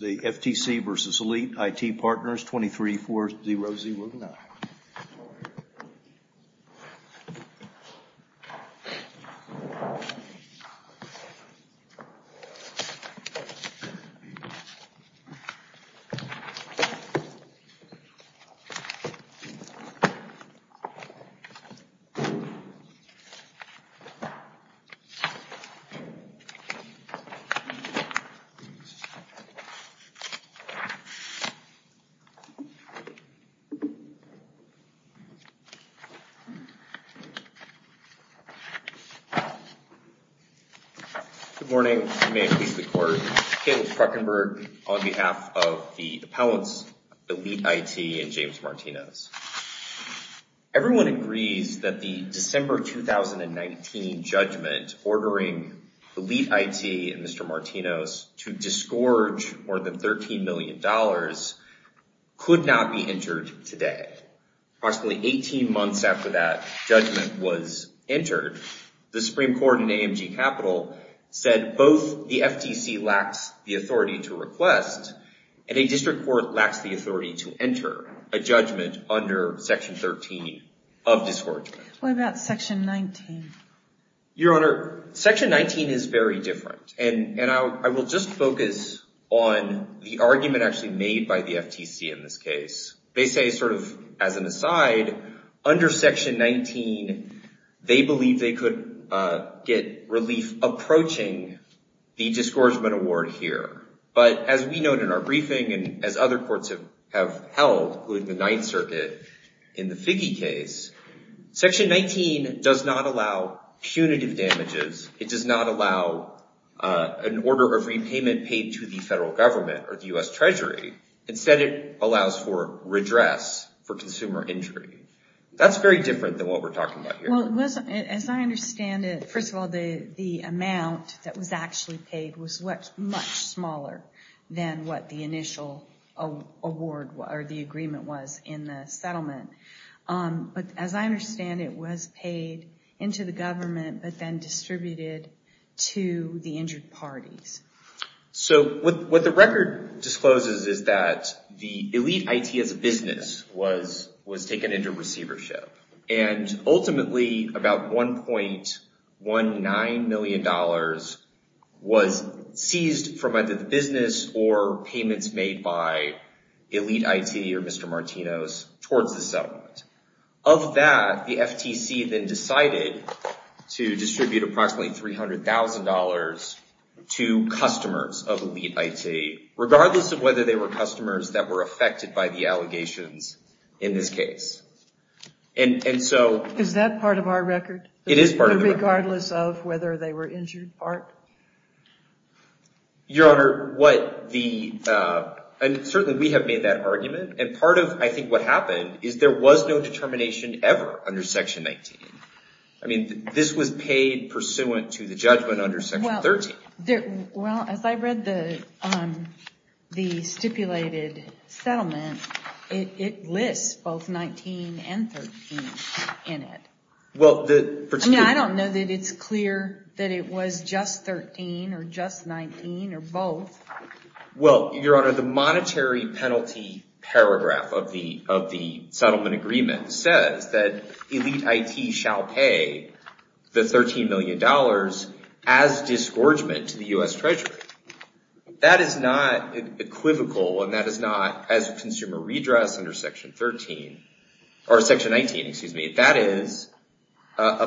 The FTC v. Elite IT Partners 23-4009 Good morning, and may it please the court. Caleb Krockenberg on behalf of the appellants Elite IT and James Martinez. Everyone agrees that the December 2019 judgment ordering Elite for more than $13 million could not be entered today. Approximately 18 months after that judgment was entered, the Supreme Court in AMG Capital said both the FTC lacks the authority to request, and a district court lacks the authority to enter a judgment under Section 13 of discouragement. What about Section 19? Your Honor, Section 19 is very different, and I will just focus on the argument actually made by the FTC in this case. They say sort of as an aside, under Section 19, they believe they could get relief approaching the discouragement award here. But as we noted in our briefing and as other courts have held, including the Ninth Circuit in the Figge case, Section 19 does not allow punitive damages. It does not allow an order of repayment paid to the federal government or the U.S. Treasury. Instead, it allows for redress for consumer injury. That's very different than what we're talking about here. Well, as I understand it, first of all, the amount that was actually paid was much smaller than what the initial award or the agreement was in the settlement. But as I understand it, it was paid into the government, but then distributed to the injured parties. So what the record discloses is that the elite IT as a business was taken into receivership. And ultimately, about $1.19 million was seized from either the business or payments made by elite IT or Mr. Martino's towards the settlement. Of that, the FTC then decided to distribute approximately $300,000 to customers of elite IT, regardless of whether they were customers that were affected by the allegations in this case. And so... Is that part of our record? It is part of the record. Regardless of whether they were injured part? Your Honor, what the... And certainly, we have made that argument. And part of, I think, what happened is there was no determination ever under Section 19. I mean, this was paid pursuant to the judgment under Section 13. Well, as I read the stipulated settlement, it lists both 19 and 13 in it. Well, the... I mean, I don't know that it's clear that it was just 13 or just 19 or both. Well, Your Honor, the monetary penalty paragraph of the settlement agreement says that elite IT shall pay the $13 million as disgorgement to the U.S. Treasury. That is not equivocal and that is not, as consumer redress under Section 13, or Section 19, excuse me, that is a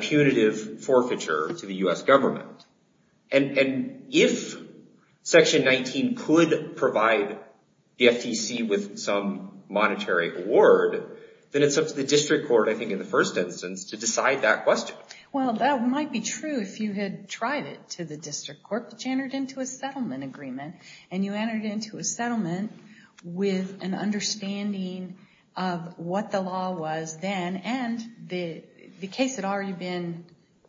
punitive forfeiture to the U.S. government. And if Section 19 could provide the FTC with some monetary award, then it's up to the District Court, I think, in the first instance to decide that question. Well, that might be true if you had tried it to the District Court, which entered into a settlement agreement, and you entered into a settlement with an understanding of what the law was then, and the case had already been...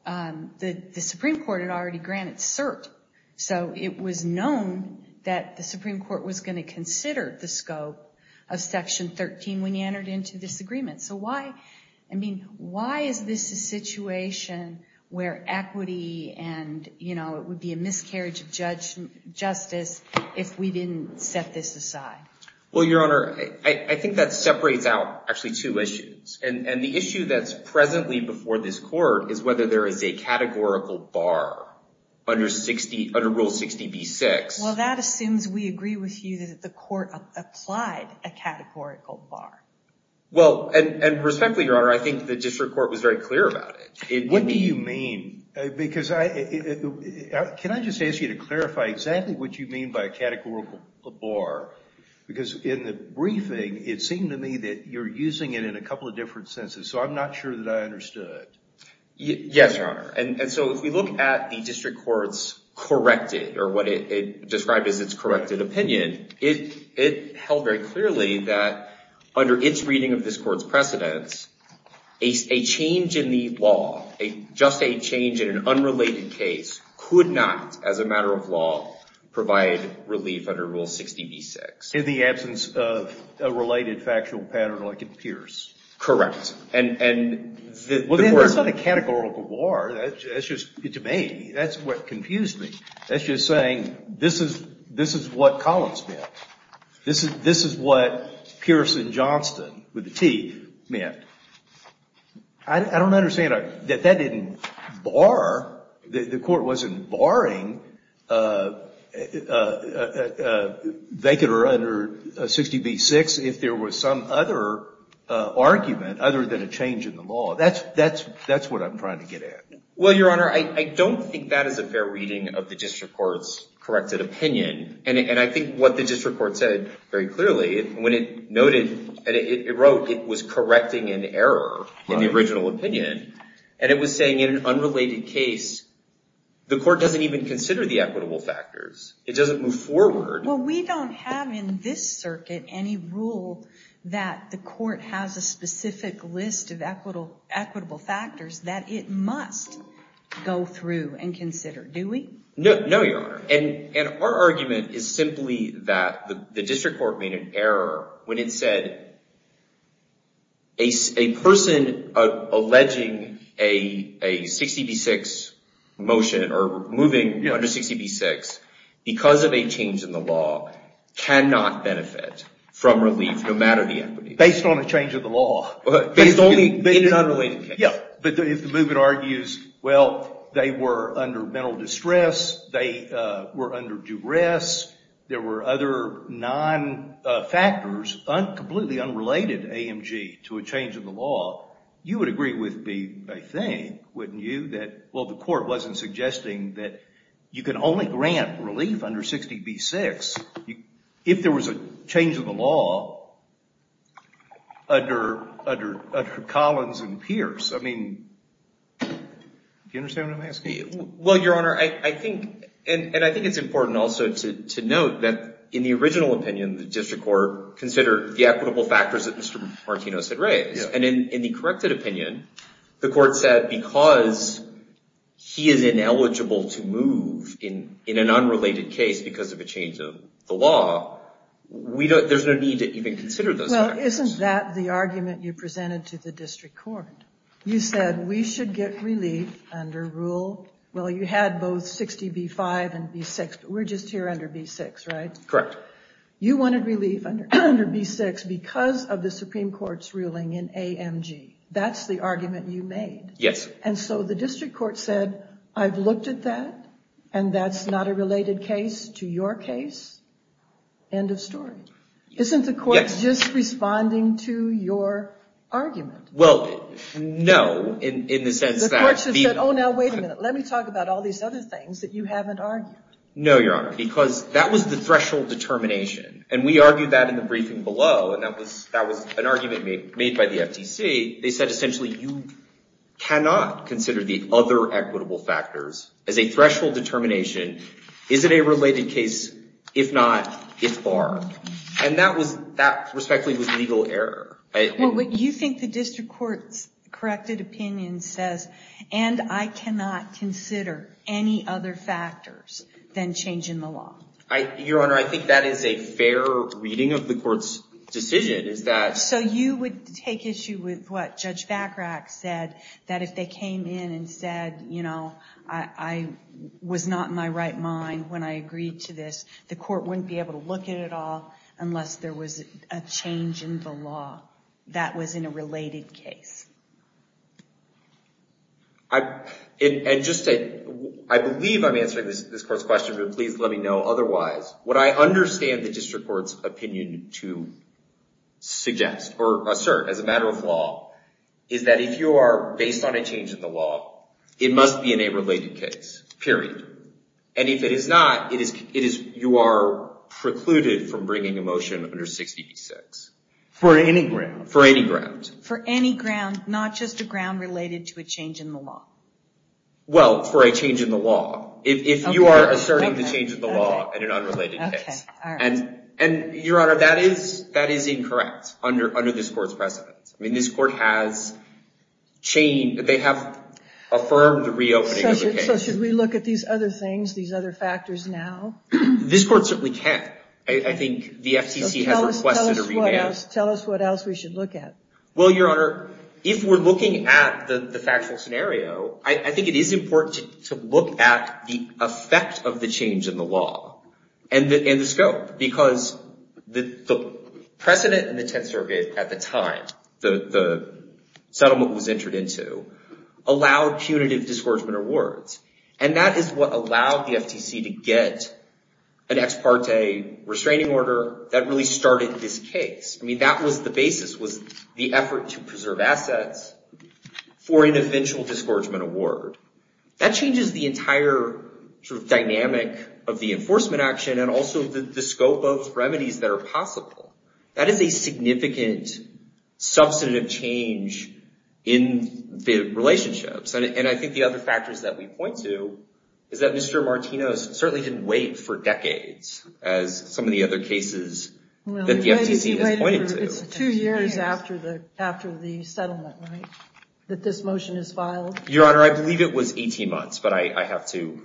the Supreme Court had already granted cert, so it was known that the Supreme Court was going to consider the scope of Section 13 when you entered into this agreement. So why, I mean, why is this a situation where equity and, you know, it would be a miscarriage of justice if we didn't set this aside? Well, Your Honor, I think that separates out actually two issues, and the issue that's presently before this Court is whether there is a categorical bar under Rule 60b-6. Well, that assumes we agree with you that the Court applied a categorical bar. Well, and respectfully, Your Honor, I think the District Court was very clear about it. What do you mean? Because I... Can I just ask you to clarify exactly what you mean by a categorical bar? Because in the briefing, it seemed to me that you're using it in a couple of different senses, so I'm not sure that I understood. Yes, Your Honor, and so if we look at the District Court's corrected, or what it described as its corrected opinion, it held very clearly that under its reading of this Court's precedents, a change in the law, just a change in an unrelated case, could not, as a matter of law, provide relief under Rule 60b-6. In the absence of a related factual pattern like in Pierce? Correct. And the Court... Well, there's not a categorical bar. That's just, to me, that's what confused me. That's just saying, this is what Collins meant. This is what Pierce and Johnston, with a T, meant. I don't understand that that didn't bar... The Court wasn't barring a vacant or under 60b-6 if there was some other argument, other than a change in the law. That's what I'm trying to get at. Well, Your Honor, I don't think that is a fair reading of the District Court's corrected opinion. And I think what the District Court said very clearly, when it noted and it wrote it was correcting an error in the original opinion, and it was saying in an unrelated case, the Court doesn't even consider the equitable factors. It doesn't move forward. Well, we don't have in this circuit any rule that the Court has a specific list of equitable factors that it must go through and consider, do we? No, Your Honor. And our argument is simply that the District Court made an error when it said a person alleging a 60b-6 motion, or moving under 60b-6, because of a change in the law, cannot benefit from relief, no matter the equity. Based on a change of the law. But if the movement argues, well, they were under mental distress, were under duress, there were other non-factors, completely unrelated, AMG, to a change of the law, you would agree with me, I think, wouldn't you, that, well, the Court wasn't suggesting that you can only grant relief under 60b-6 if there was a change of the law under Collins and Pierce. Well, Your Honor, and I think it's important also to note that in the original opinion, the District Court considered the equitable factors that Mr. Martino said raised. And in the corrected opinion, the Court said because he is ineligible to move in an unrelated case because of a change of the law, there's no need to even consider those factors. Well, isn't that the argument you presented to the District Court? You said we should get relief under rule. Well, you had both 60b-5 and b-6, but we're just here under b-6, right? Correct. You wanted relief under b-6 because of the Supreme Court's ruling in AMG. That's the argument you made. Yes. And so the District Court said, I've looked at that, and that's not a related case to your case. End of story. Isn't the Court just responding to your argument? Well, no, in the sense that... The Court just said, oh, now, wait a minute. Let me talk about all these other things that you haven't argued. No, Your Honor, because that was the threshold determination. And we argued that in the briefing below. And that was an argument made by the FTC. They said, essentially, you cannot consider the other equitable factors as a threshold determination. Is it a related case? If not, if are. And that respectfully was legal error. Well, you think the District Court's corrected opinion says, and I cannot consider any other factors than change in the law? Your Honor, I think that is a fair reading of the Court's decision, is that... So you would take issue with what Judge Vacarak said, that if they came in and said, you know, I was not in my right mind when I agreed to this, the Court wouldn't be able to look at it all unless there was a change in the law. That was in a related case. And just to... I believe I'm answering this Court's question, but please let me know otherwise. What I understand the District Court's opinion to suggest, or assert as a matter of law, is that if you are based on a change in the law, it must be in a related case, period. And if it is not, you are precluded from bringing a motion under 60B-6. For any ground? For any ground. For any ground, not just a ground related to a change in the law? Well, for a change in the law. If you are asserting the change in the law in an unrelated case. And, Your Honor, that is incorrect under this Court's precedent. I mean, this Court has changed... They have affirmed the reopening of the case. So should we look at these other things, these other factors now? This Court certainly can. I think the FTC has requested a revamp. Tell us what else we should look at. Well, Your Honor, if we're looking at the factual scenario, I think it is important to look at the effect of the change in the law. And the scope. Because the precedent in the Tenth Circuit at the time the settlement was entered into, allowed punitive discouragement awards. And that is what allowed the FTC to get an ex parte restraining order that really started this case. I mean, that was the basis, was the effort to preserve assets for an eventual discouragement award. That changes the entire dynamic of the enforcement action and also the scope of remedies that are possible. That is a significant, substantive change in the relationships. And I think the other factors that we point to is that Mr. Martinez certainly didn't wait for decades as some of the other cases that the FTC has pointed to. It's two years after the settlement, right? That this motion is filed? Your Honor, I believe it was 18 months, but I have to...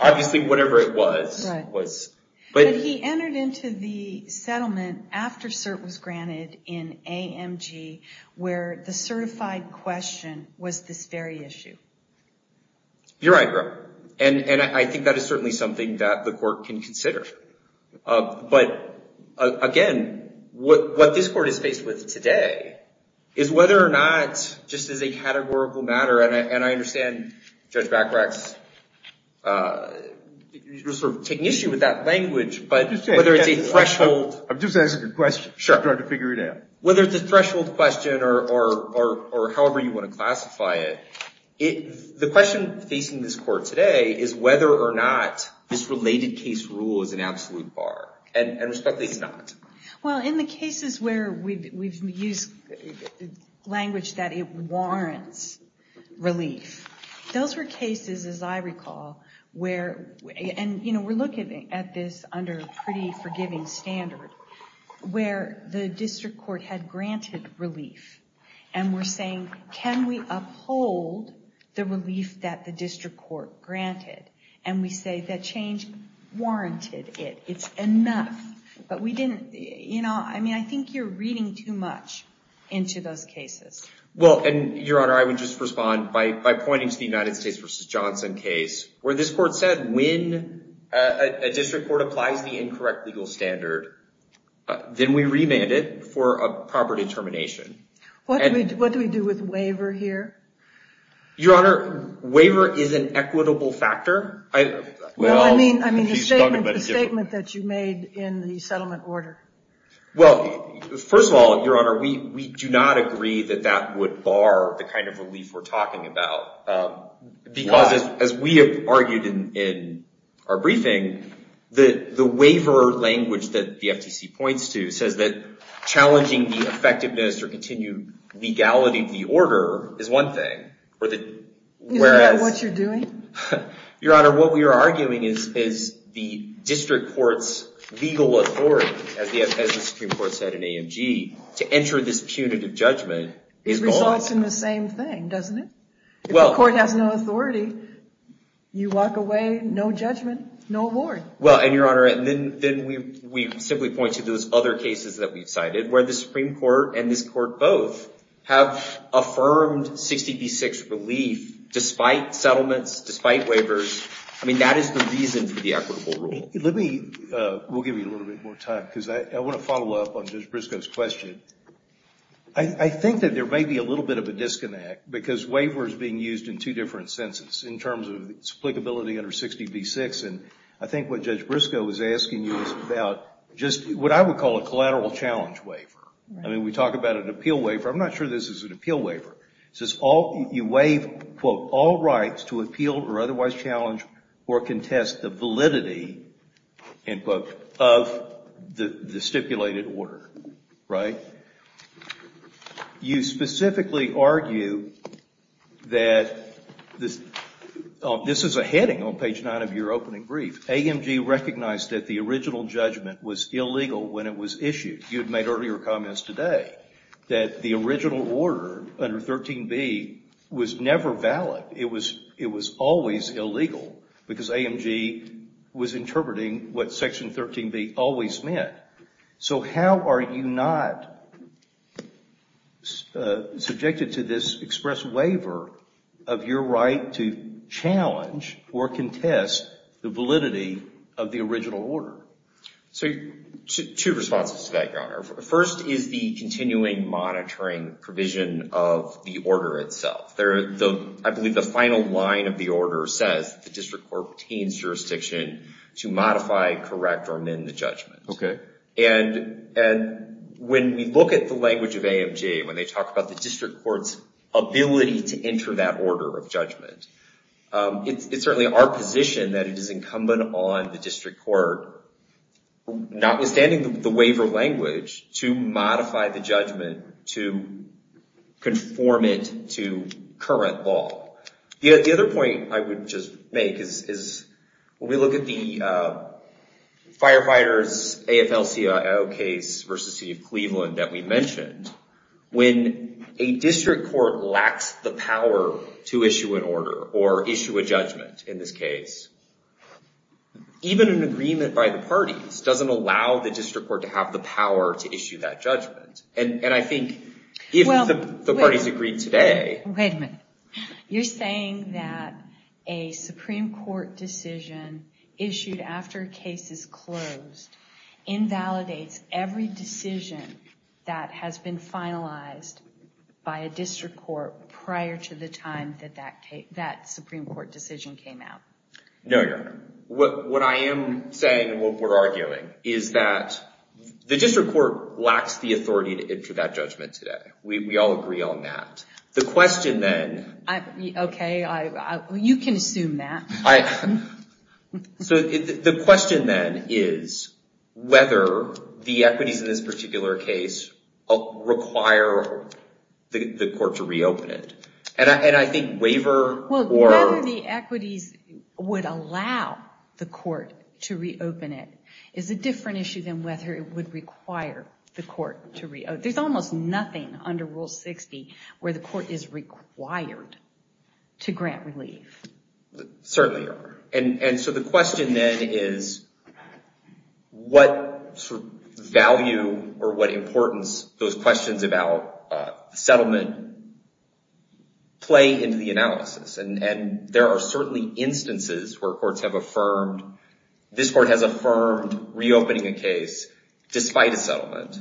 Obviously, whatever it was, was... But he entered into the settlement after CERT was granted in AMG, where the certified question was this very issue. You're right, Your Honor. And I think that is certainly something that the court can consider. But, again, what this court is faced with today is whether or not, just as a categorical matter, and I understand Judge Bacrak's sort of taking issue with that language, but whether it's a threshold... I'm just asking a question. Sure. I'm trying to figure it out. Whether it's a threshold question or however you want to classify it, the question facing this court today is whether or not this related case rule is an absolute bar. And respectfully, it's not. Well, in the cases where we've used language that it warrants relief, those were cases, as I recall, where... And we're looking at this under a pretty forgiving standard, where the district court had granted relief. And we're saying, can we uphold the relief that the district court granted? And we say that change warranted it. It's enough. But we didn't... I mean, I think you're reading too much into those cases. Well, Your Honor, I would just respond by pointing to the United States v. Johnson case, where this court said when a district court applies the incorrect legal standard, then we remand it for a proper determination. What do we do with waiver here? Your Honor, waiver is an equitable factor. Well, I mean the statement that you made in the settlement order. Well, first of all, Your Honor, we do not agree that that would bar the kind of relief we're talking about. Because as we have argued in our briefing, the waiver language that the FTC points to says that challenging the effectiveness or continued legality of the order is one thing. Isn't that what you're doing? Your Honor, what we are arguing is the district court's legal authority, as the Supreme Court said in AMG, to enter this punitive judgment is false. This results in the same thing, doesn't it? If the court has no authority, you walk away, no judgment, no award. Well, and Your Honor, then we simply point to those other cases that we've cited, where the Supreme Court and this court both have affirmed 60 v. 6 relief, despite settlements, despite waivers. I mean, that is the reason for the equitable rule. Let me, we'll give you a little bit more time, because I want to follow up on Judge Briscoe's question. I think that there may be a little bit of a disconnect, because waiver is being used in two different senses, in terms of its applicability under 60 v. 6. And I think what Judge Briscoe was asking you was about just what I would call a collateral challenge waiver. I mean, we talk about an appeal waiver. I'm not sure this is an appeal waiver. It says you waive, quote, all rights to appeal or otherwise challenge or contest the validity, end quote, of the stipulated order, right? And you specifically argue that this is a heading on page 9 of your opening brief. AMG recognized that the original judgment was illegal when it was issued. You had made earlier comments today that the original order under 13b was never valid. It was always illegal, because AMG was interpreting what section 13b always meant. So how are you not subjected to this express waiver of your right to challenge or contest the validity of the original order? So two responses to that, Your Honor. First is the continuing monitoring provision of the order itself. I believe the final line of the order says the district court obtains jurisdiction to modify, correct, or amend the judgment. And when we look at the language of AMG, when they talk about the district court's ability to enter that order of judgment, it's certainly our position that it is incumbent on the district court, notwithstanding the waiver language, to modify the judgment, to conform it to current law. The other point I would just make is when we look at the firefighters AFL-CIO case versus the city of Cleveland that we mentioned, when a district court lacks the power to issue an order or issue a judgment in this case, even an agreement by the parties doesn't allow the district court to have the power to issue that judgment. And I think if the parties agreed today... Wait a minute. You're saying that a Supreme Court decision issued after a case is closed invalidates every decision that has been finalized by a district court prior to the time that Supreme Court decision came out? No, Your Honor. What I am saying and what we're arguing is that the district court lacks the authority to enter that judgment today. We all agree on that. The question then... Okay, you can assume that. So the question then is whether the equities in this particular case require the court to reopen it. And I think waiver or... The court to reopen it is a different issue than whether it would require the court to reopen. There's almost nothing under Rule 60 where the court is required to grant relief. Certainly, Your Honor. And so the question then is what sort of value or what importance those questions about settlement play into the analysis. And there are certainly instances where courts have affirmed... This court has affirmed reopening a case despite a settlement.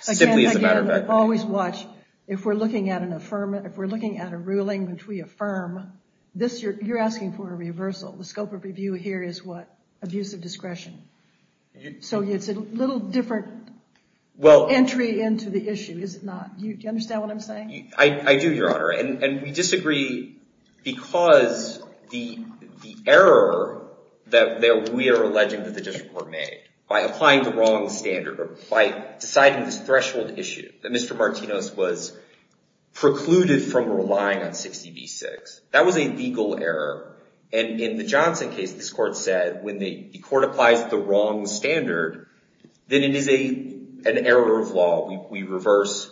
Simply as a matter of fact. Always watch. If we're looking at a ruling which we affirm, you're asking for a reversal. The scope of review here is what? Abusive discretion. So it's a little different entry into the issue, is it not? Do you understand what I'm saying? I do, Your Honor. And we disagree because the error that we are alleging that the district court made by applying the wrong standard or by deciding this threshold issue that Mr. Martinez was precluded from relying on 60 v. 6. That was a legal error. And in the Johnson case, this court said when the court applies the wrong standard, then it is an error of law. We reverse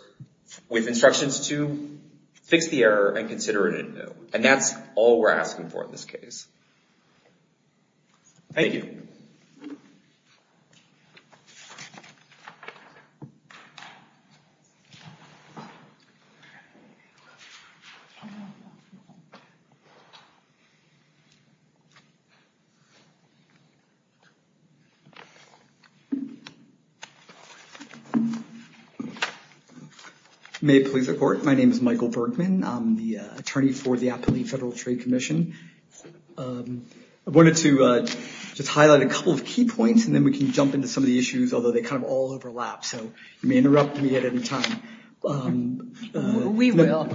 with instructions to fix the error and consider it a no. And that's all we're asking for in this case. Thank you. May it please the court. My name is Michael Bergman. I'm the attorney for the Appellee Federal Trade Commission. I wanted to just highlight a couple of key points, and then we can jump into some of the issues, although they kind of all overlap. So you may interrupt me at any time. We will.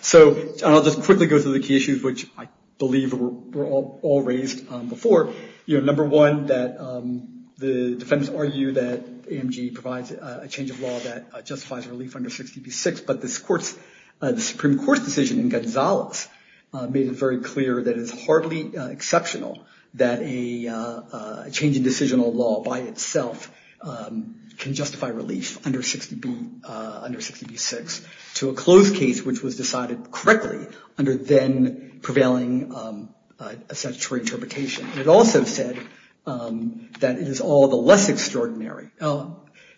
So I'll just quickly go through the key issues, which I believe were all raised before. Number one, the defendants argue that AMG provides a change of law that justifies relief under 60 v. 6. But the Supreme Court's decision in Gonzales made it very clear that it's hardly exceptional that a change in decisional law by itself can justify relief under 60 v. 6 to a closed case, which was decided correctly under then prevailing statutory interpretation. It also said that it is all the less extraordinary.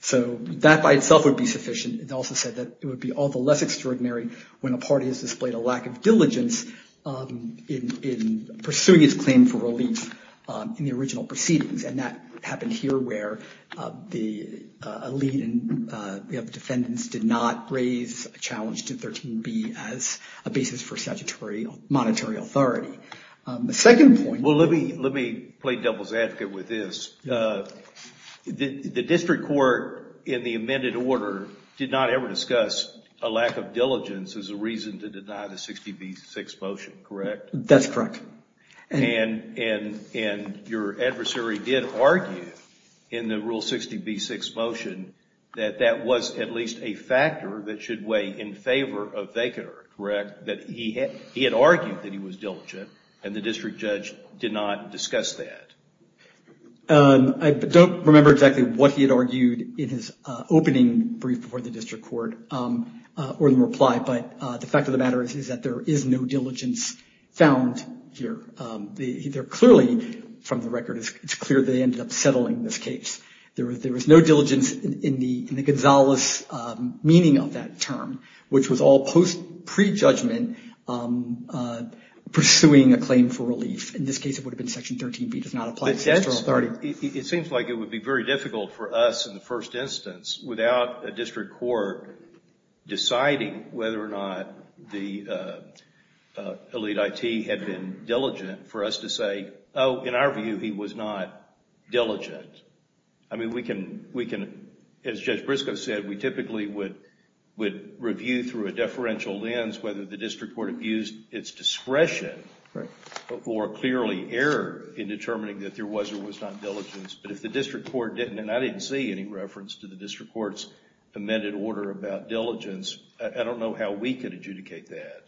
So that by itself would be sufficient. It also said that it would be all the less extraordinary when a party has displayed a lack of diligence in pursuing its claim for relief in the original proceedings. And that happened here where the elite of defendants did not raise a challenge to 13 b as a basis for statutory monetary authority. The second point... Well, let me play devil's advocate with this. The district court in the amended order did not ever discuss a lack of diligence as a reason to deny the 60 v. 6 motion, correct? That's correct. And your adversary did argue in the Rule 60 v. 6 motion that that was at least a factor that should weigh in favor of Vaquener, correct? That he had argued that he was diligent and the district judge did not discuss that. I don't remember exactly what he had argued in his opening brief before the district court or the reply. But the fact of the matter is that there is no diligence found here. They're clearly, from the record, it's clear they ended up settling this case. There was no diligence in the Gonzales meaning of that term, which was all post prejudgment pursuing a claim for relief. In this case, it would have been section 13 b, does not apply to the authority. It seems like it would be very difficult for us in the first instance without a district court deciding whether or not the elite IT had been diligent for us to say, oh, in our view, he was not diligent. I mean, we can, as Judge Briscoe said, we typically would review through a deferential lens whether the district court abused its discretion or clearly error in determining that there was or was not diligence. But if the district court didn't, and I didn't see any reference to the district court's amended order about diligence, I don't know how we could adjudicate that.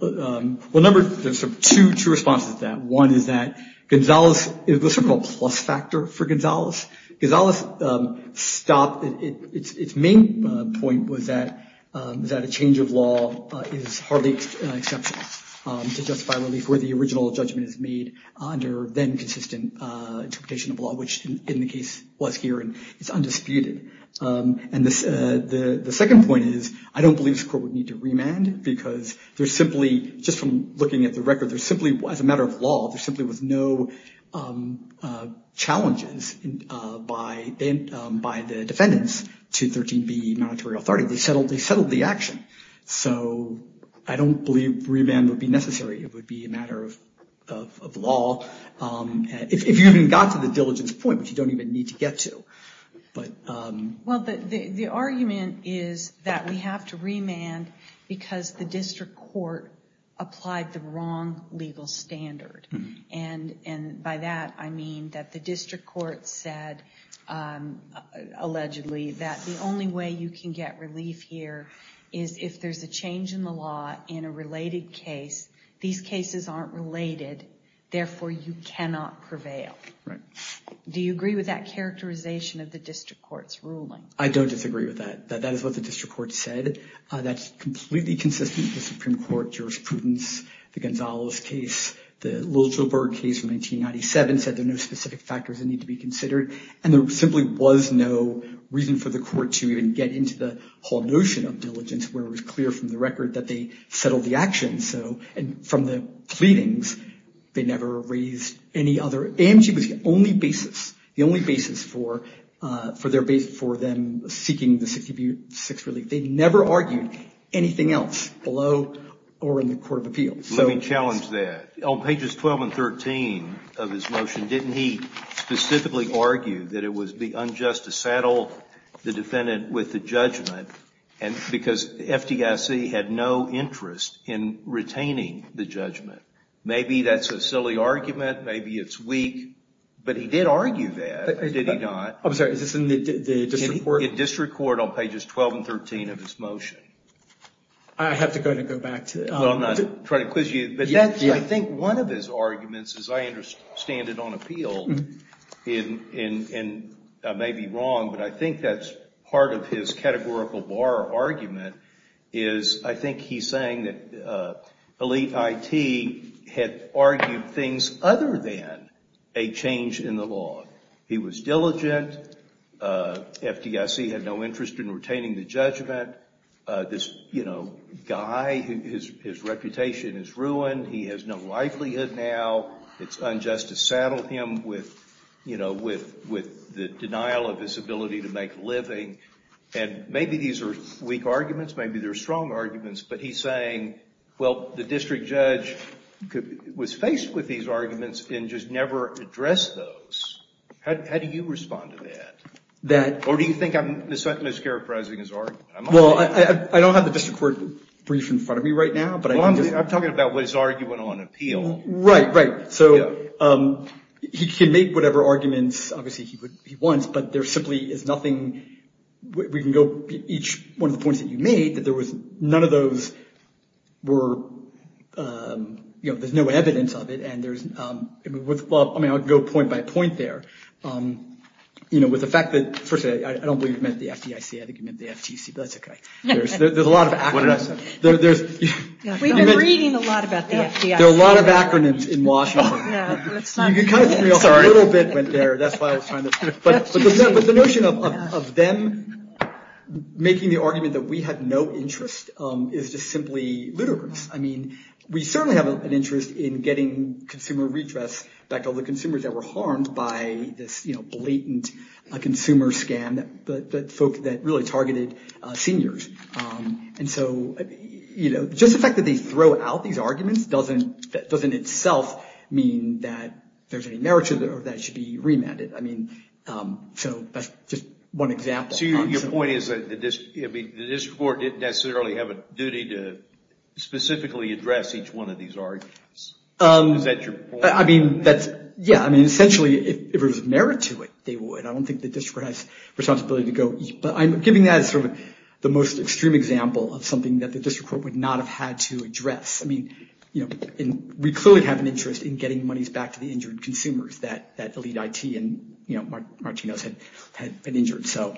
Well, there's two responses to that. One is that Gonzales, it was a plus factor for Gonzales. Gonzales stopped, its main point was that a change of law is hardly exceptional to justify relief where the original judgment is made under then consistent interpretation of law, which in the case was here, and it's undisputed. And the second point is, I don't believe this court would need to remand because there's simply, just from looking at the record, there's simply, as a matter of law, there simply was no challenges by the defendants to 13B monetary authority. They settled the action. So I don't believe remand would be necessary. It would be a matter of law, if you even got to the diligence point, which you don't even need to get to. Well, the argument is that we have to remand because the district court applied the wrong legal standard. And by that, I mean that the district court said, allegedly, that the only way you can get relief here is if there's a change in the law in a related case, these cases aren't related, therefore you cannot prevail. Do you agree with that characterization of the district court's ruling? I don't disagree with that. That is what the district court said. That's completely consistent with the Supreme Court jurisprudence, the Gonzales case, the Wilzberg case from 1997, said there are no specific factors that need to be considered. And there simply was no reason for the court to even get into the whole notion of diligence, where it was clear from the record that they settled the action. So from the pleadings, they never raised any other. AMG was the only basis, the only basis for them seeking the 6th relief. They never argued anything else below or in the court of appeals. Let me challenge that. On pages 12 and 13 of his motion, didn't he specifically argue that it would be unjust to saddle the defendant with the judgment because FDIC had no interest in retaining the judgment? Maybe that's a silly argument, maybe it's weak, but he did argue that, did he not? I'm sorry, is this in the district court? In district court on pages 12 and 13 of his motion. I have to go ahead and go back to it. I'm not trying to quiz you. But I think one of his arguments, as I understand it on appeal, and I may be wrong, but I think that's part of his categorical bar argument, is I think he's saying that elite IT had argued things other than a change in the law. He was diligent. FDIC had no interest in retaining the judgment. This guy, his reputation is ruined. He has no livelihood now. It's unjust to saddle him with the denial of his ability to make a living. Maybe these are weak arguments, maybe they're strong arguments, but he's saying, well, the district judge was faced with these arguments and just never addressed those. How do you respond to that? Or do you think I'm mischaracterizing his argument? Well, I don't have the district court brief in front of me right now. Well, I'm talking about his argument on appeal. Right, right. So he can make whatever arguments, obviously, he wants, but there simply is nothing. We can go each one of the points that you made, that there was none of those were, you know, there's no evidence of it. There's, well, I mean, I'll go point by point there. You know, with the fact that, first of all, I don't believe you meant the FDIC, I think you meant the FTC, but that's OK. There's a lot of acronyms. What did I say? We've been reading a lot about the FDIC. There are a lot of acronyms in Washington. No, it's not. You kind of threw me off a little bit there, that's why I was trying to, but the notion of them making the argument that we had no interest is just simply ludicrous. I mean, we certainly have an interest in getting consumer redress back to all the consumers that were harmed by this blatant consumer scam that really targeted seniors. And so, you know, just the fact that they throw out these arguments doesn't itself mean that there's any merit to it or that it should be remanded. So that's just one example. So your point is that the district court didn't necessarily have a duty to specifically address each one of these arguments? Is that your point? I mean, that's, yeah. I mean, essentially, if it was a merit to it, they would. I don't think the district has a responsibility to go. But I'm giving that as sort of the most extreme example of something that the district court would not have had to address. I mean, you know, we clearly have an interest in getting monies back to the injured consumers that Elite IT and, you know, Martino's had been injured. So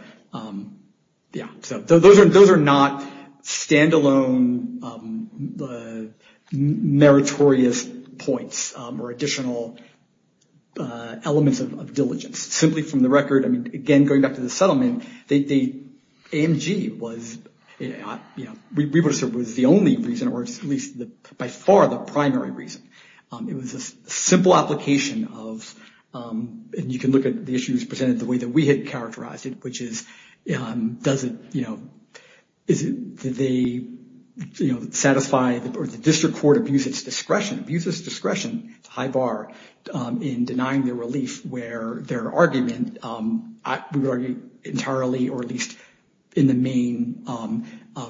yeah, so those are not standalone meritorious points or additional elements of diligence. Simply from the record, I mean, again, going back to the settlement, the AMG was, you know, we would have said was the only reason or at least by far the primary reason. It was a simple application of, and you can look at the issues presented the way that we had characterized it, which is, does it, you know, is it, did they, you know, satisfy or the district court abuse its discretion, abuse its discretion to high bar in denying their relief where their argument, we would argue, entirely or at least in the main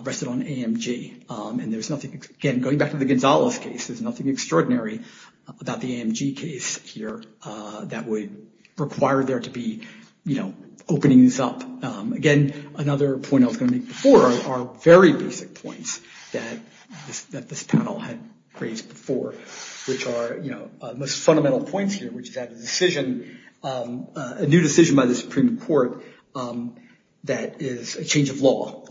rested on AMG. And there's nothing, again, going back to the Gonzales case, there's nothing extraordinary about the AMG case here that would require there to be, you know, openings up. Again, another point I was going to make before are very basic points that this panel had raised before, which are, you know, most fundamental points here, which is that a decision, a new decision by the Supreme Court that is a change of law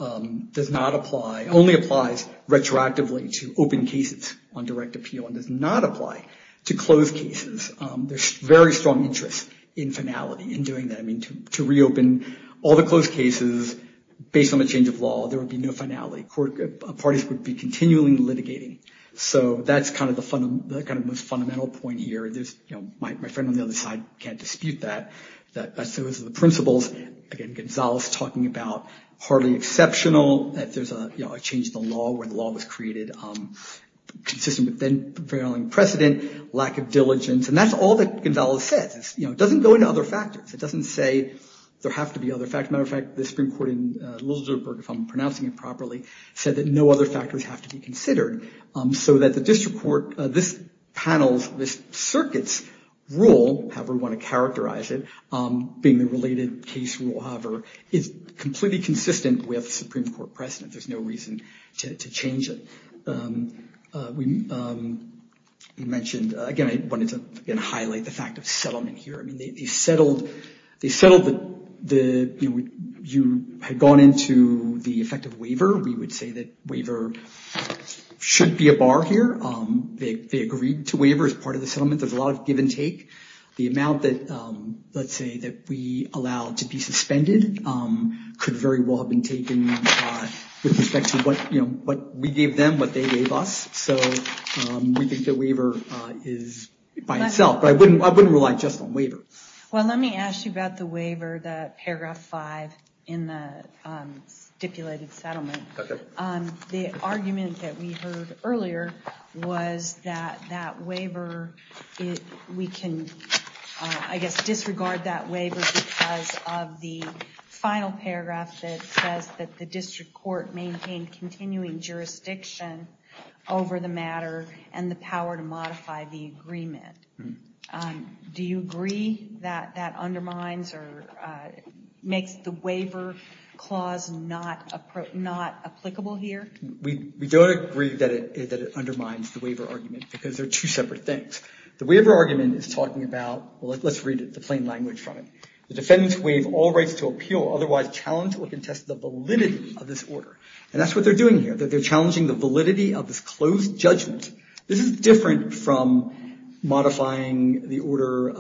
does not apply, only applies retroactively to open cases on direct appeal and does not apply to closed cases. There's very strong interest in finality in doing that. I mean, to reopen all the closed cases based on the change of law, there would be no finality. Parties would be continually litigating. So that's kind of the kind of most fundamental point here. There's, you know, my friend on the other side can't dispute that. That as soon as the principles, again, Gonzales talking about hardly exceptional that there's a change in the law where the law was created, consistent with then prevailing precedent, lack of diligence. And that's all that Gonzales says. You know, it doesn't go into other factors. It doesn't say there have to be other factors. Matter of fact, the Supreme Court in Luxembourg, if I'm pronouncing it properly, said that no other factors have to be considered so that the district court, this panel's, this circuit's rule, however we want to characterize it, being the related case rule, however, is completely consistent with Supreme Court precedent. There's no reason to change it. We mentioned, again, I wanted to highlight the fact of settlement here. I mean, they settled the, you know, you had gone into the effect of waiver. We would say that waiver should be a bar here. They agreed to waiver as part of the settlement. There's a lot of give and take. The amount that, let's say, that we allow to be suspended could very well have been taken with respect to what we gave them, what they gave us. So we think that waiver is by itself. But I wouldn't rely just on waiver. Well, let me ask you about the waiver, the paragraph 5 in the stipulated settlement. The argument that we heard earlier was that that waiver, we can, I guess, disregard that waiver because of the final paragraph that says that the district court maintained continuing jurisdiction over the matter and the power to modify the agreement. Do you agree that that undermines or makes the waiver clause not applicable here? We don't agree that it undermines the waiver argument because they're two separate things. The waiver argument is talking about, well, let's read the plain language from it. The defendants waive all rights to appeal, otherwise challenge or contest the validity of this order. And that's what they're doing here. They're challenging the validity of this closed judgment. This is different from modifying the order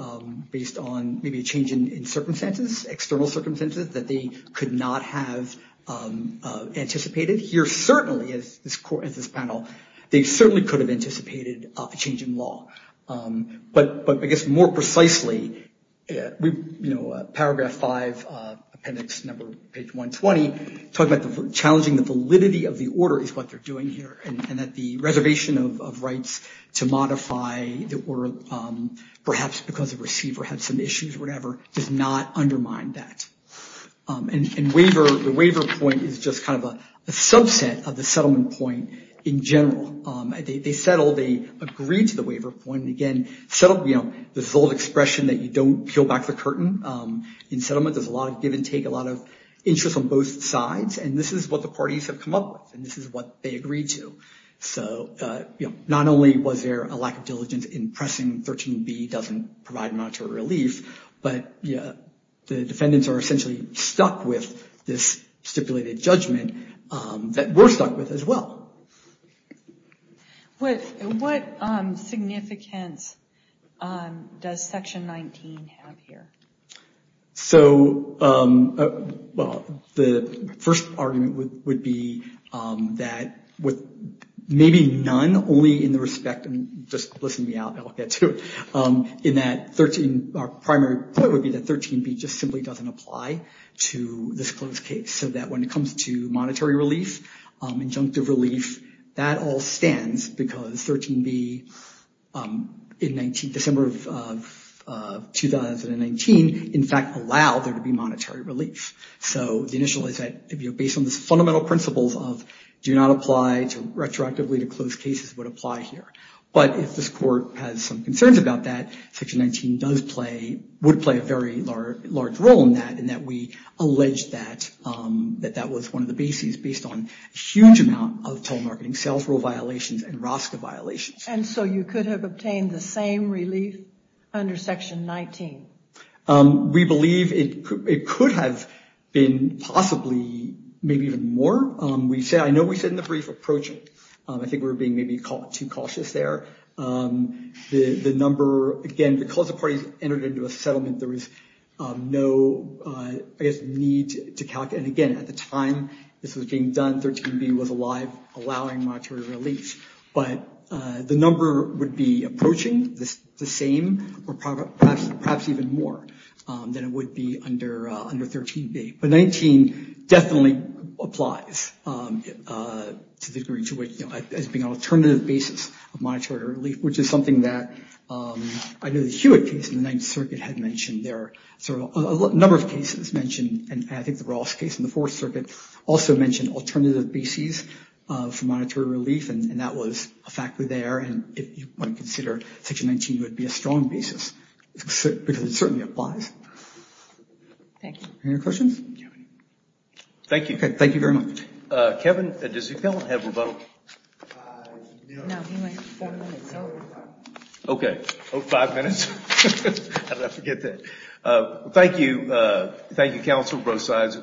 based on maybe a change in circumstances, external circumstances that they could not have anticipated. Here, certainly, as this panel, they certainly could have anticipated a change in law. But, I guess, more precisely, you know, paragraph 5, appendix number, page 120, talking about challenging the validity of the order is what they're doing here. And that the reservation of rights to modify the order, perhaps because the receiver had some issues or whatever, does not undermine that. And the waiver point is just kind of a subset of the settlement point in general. They settle. They agree to the waiver point. Again, settle, you know, this old expression that you don't peel back the curtain. In settlement, there's a lot of give and take, a lot of interest on both sides. And this is what the parties have come up with. And this is what they agreed to. So, you know, not only was there a lack of diligence in pressing 13b doesn't provide monetary relief, but the defendants are essentially stuck with this stipulated judgment that we're stuck with as well. What significance does section 19 have here? So, well, the first argument would be that with maybe none only in the respect, and just listen me out, I'll get to it, in that 13, our primary point would be that 13b just simply doesn't apply to this closed case. So that when it comes to monetary relief, injunctive relief, that all stands because 13b in December of 2019, in fact, allowed there to be monetary relief. So the initial is that, you know, based on the fundamental principles of do not apply to retroactively to closed cases would apply here. But if this court has some concerns about that, section 19 does play, would play a very large role in that, in that we allege that that was one of the bases based on a huge amount of telemarketing sales rule violations and ROSCA violations. And so you could have obtained the same relief under section 19? We believe it could have been possibly maybe even more. We say, I know we said in the brief approach, I think we were being maybe too cautious there. The number, again, because the parties entered into a settlement, there was no, I guess, need to calculate. And again, at the time this was being done, 13b was alive, allowing monetary relief. But the number would be approaching the same or perhaps even more than it would be under 13b. But 19 definitely applies to the degree to which, you know, as being an alternative basis of monetary relief, which is something that I know the Hewitt case in the Ninth Circuit mentioned, there are a number of cases mentioned, and I think the Ross case in the Fourth Circuit also mentioned alternative bases for monetary relief, and that was a factor there. And if you want to consider section 19, it would be a strong basis, because it certainly applies. Thank you. Any other questions? Thank you. Thank you very much. Kevin, does the appellant have rebuttal? No, he went five minutes. Okay. Oh, five minutes? How did I forget that? Thank you. Thank you, Counselor Brosides.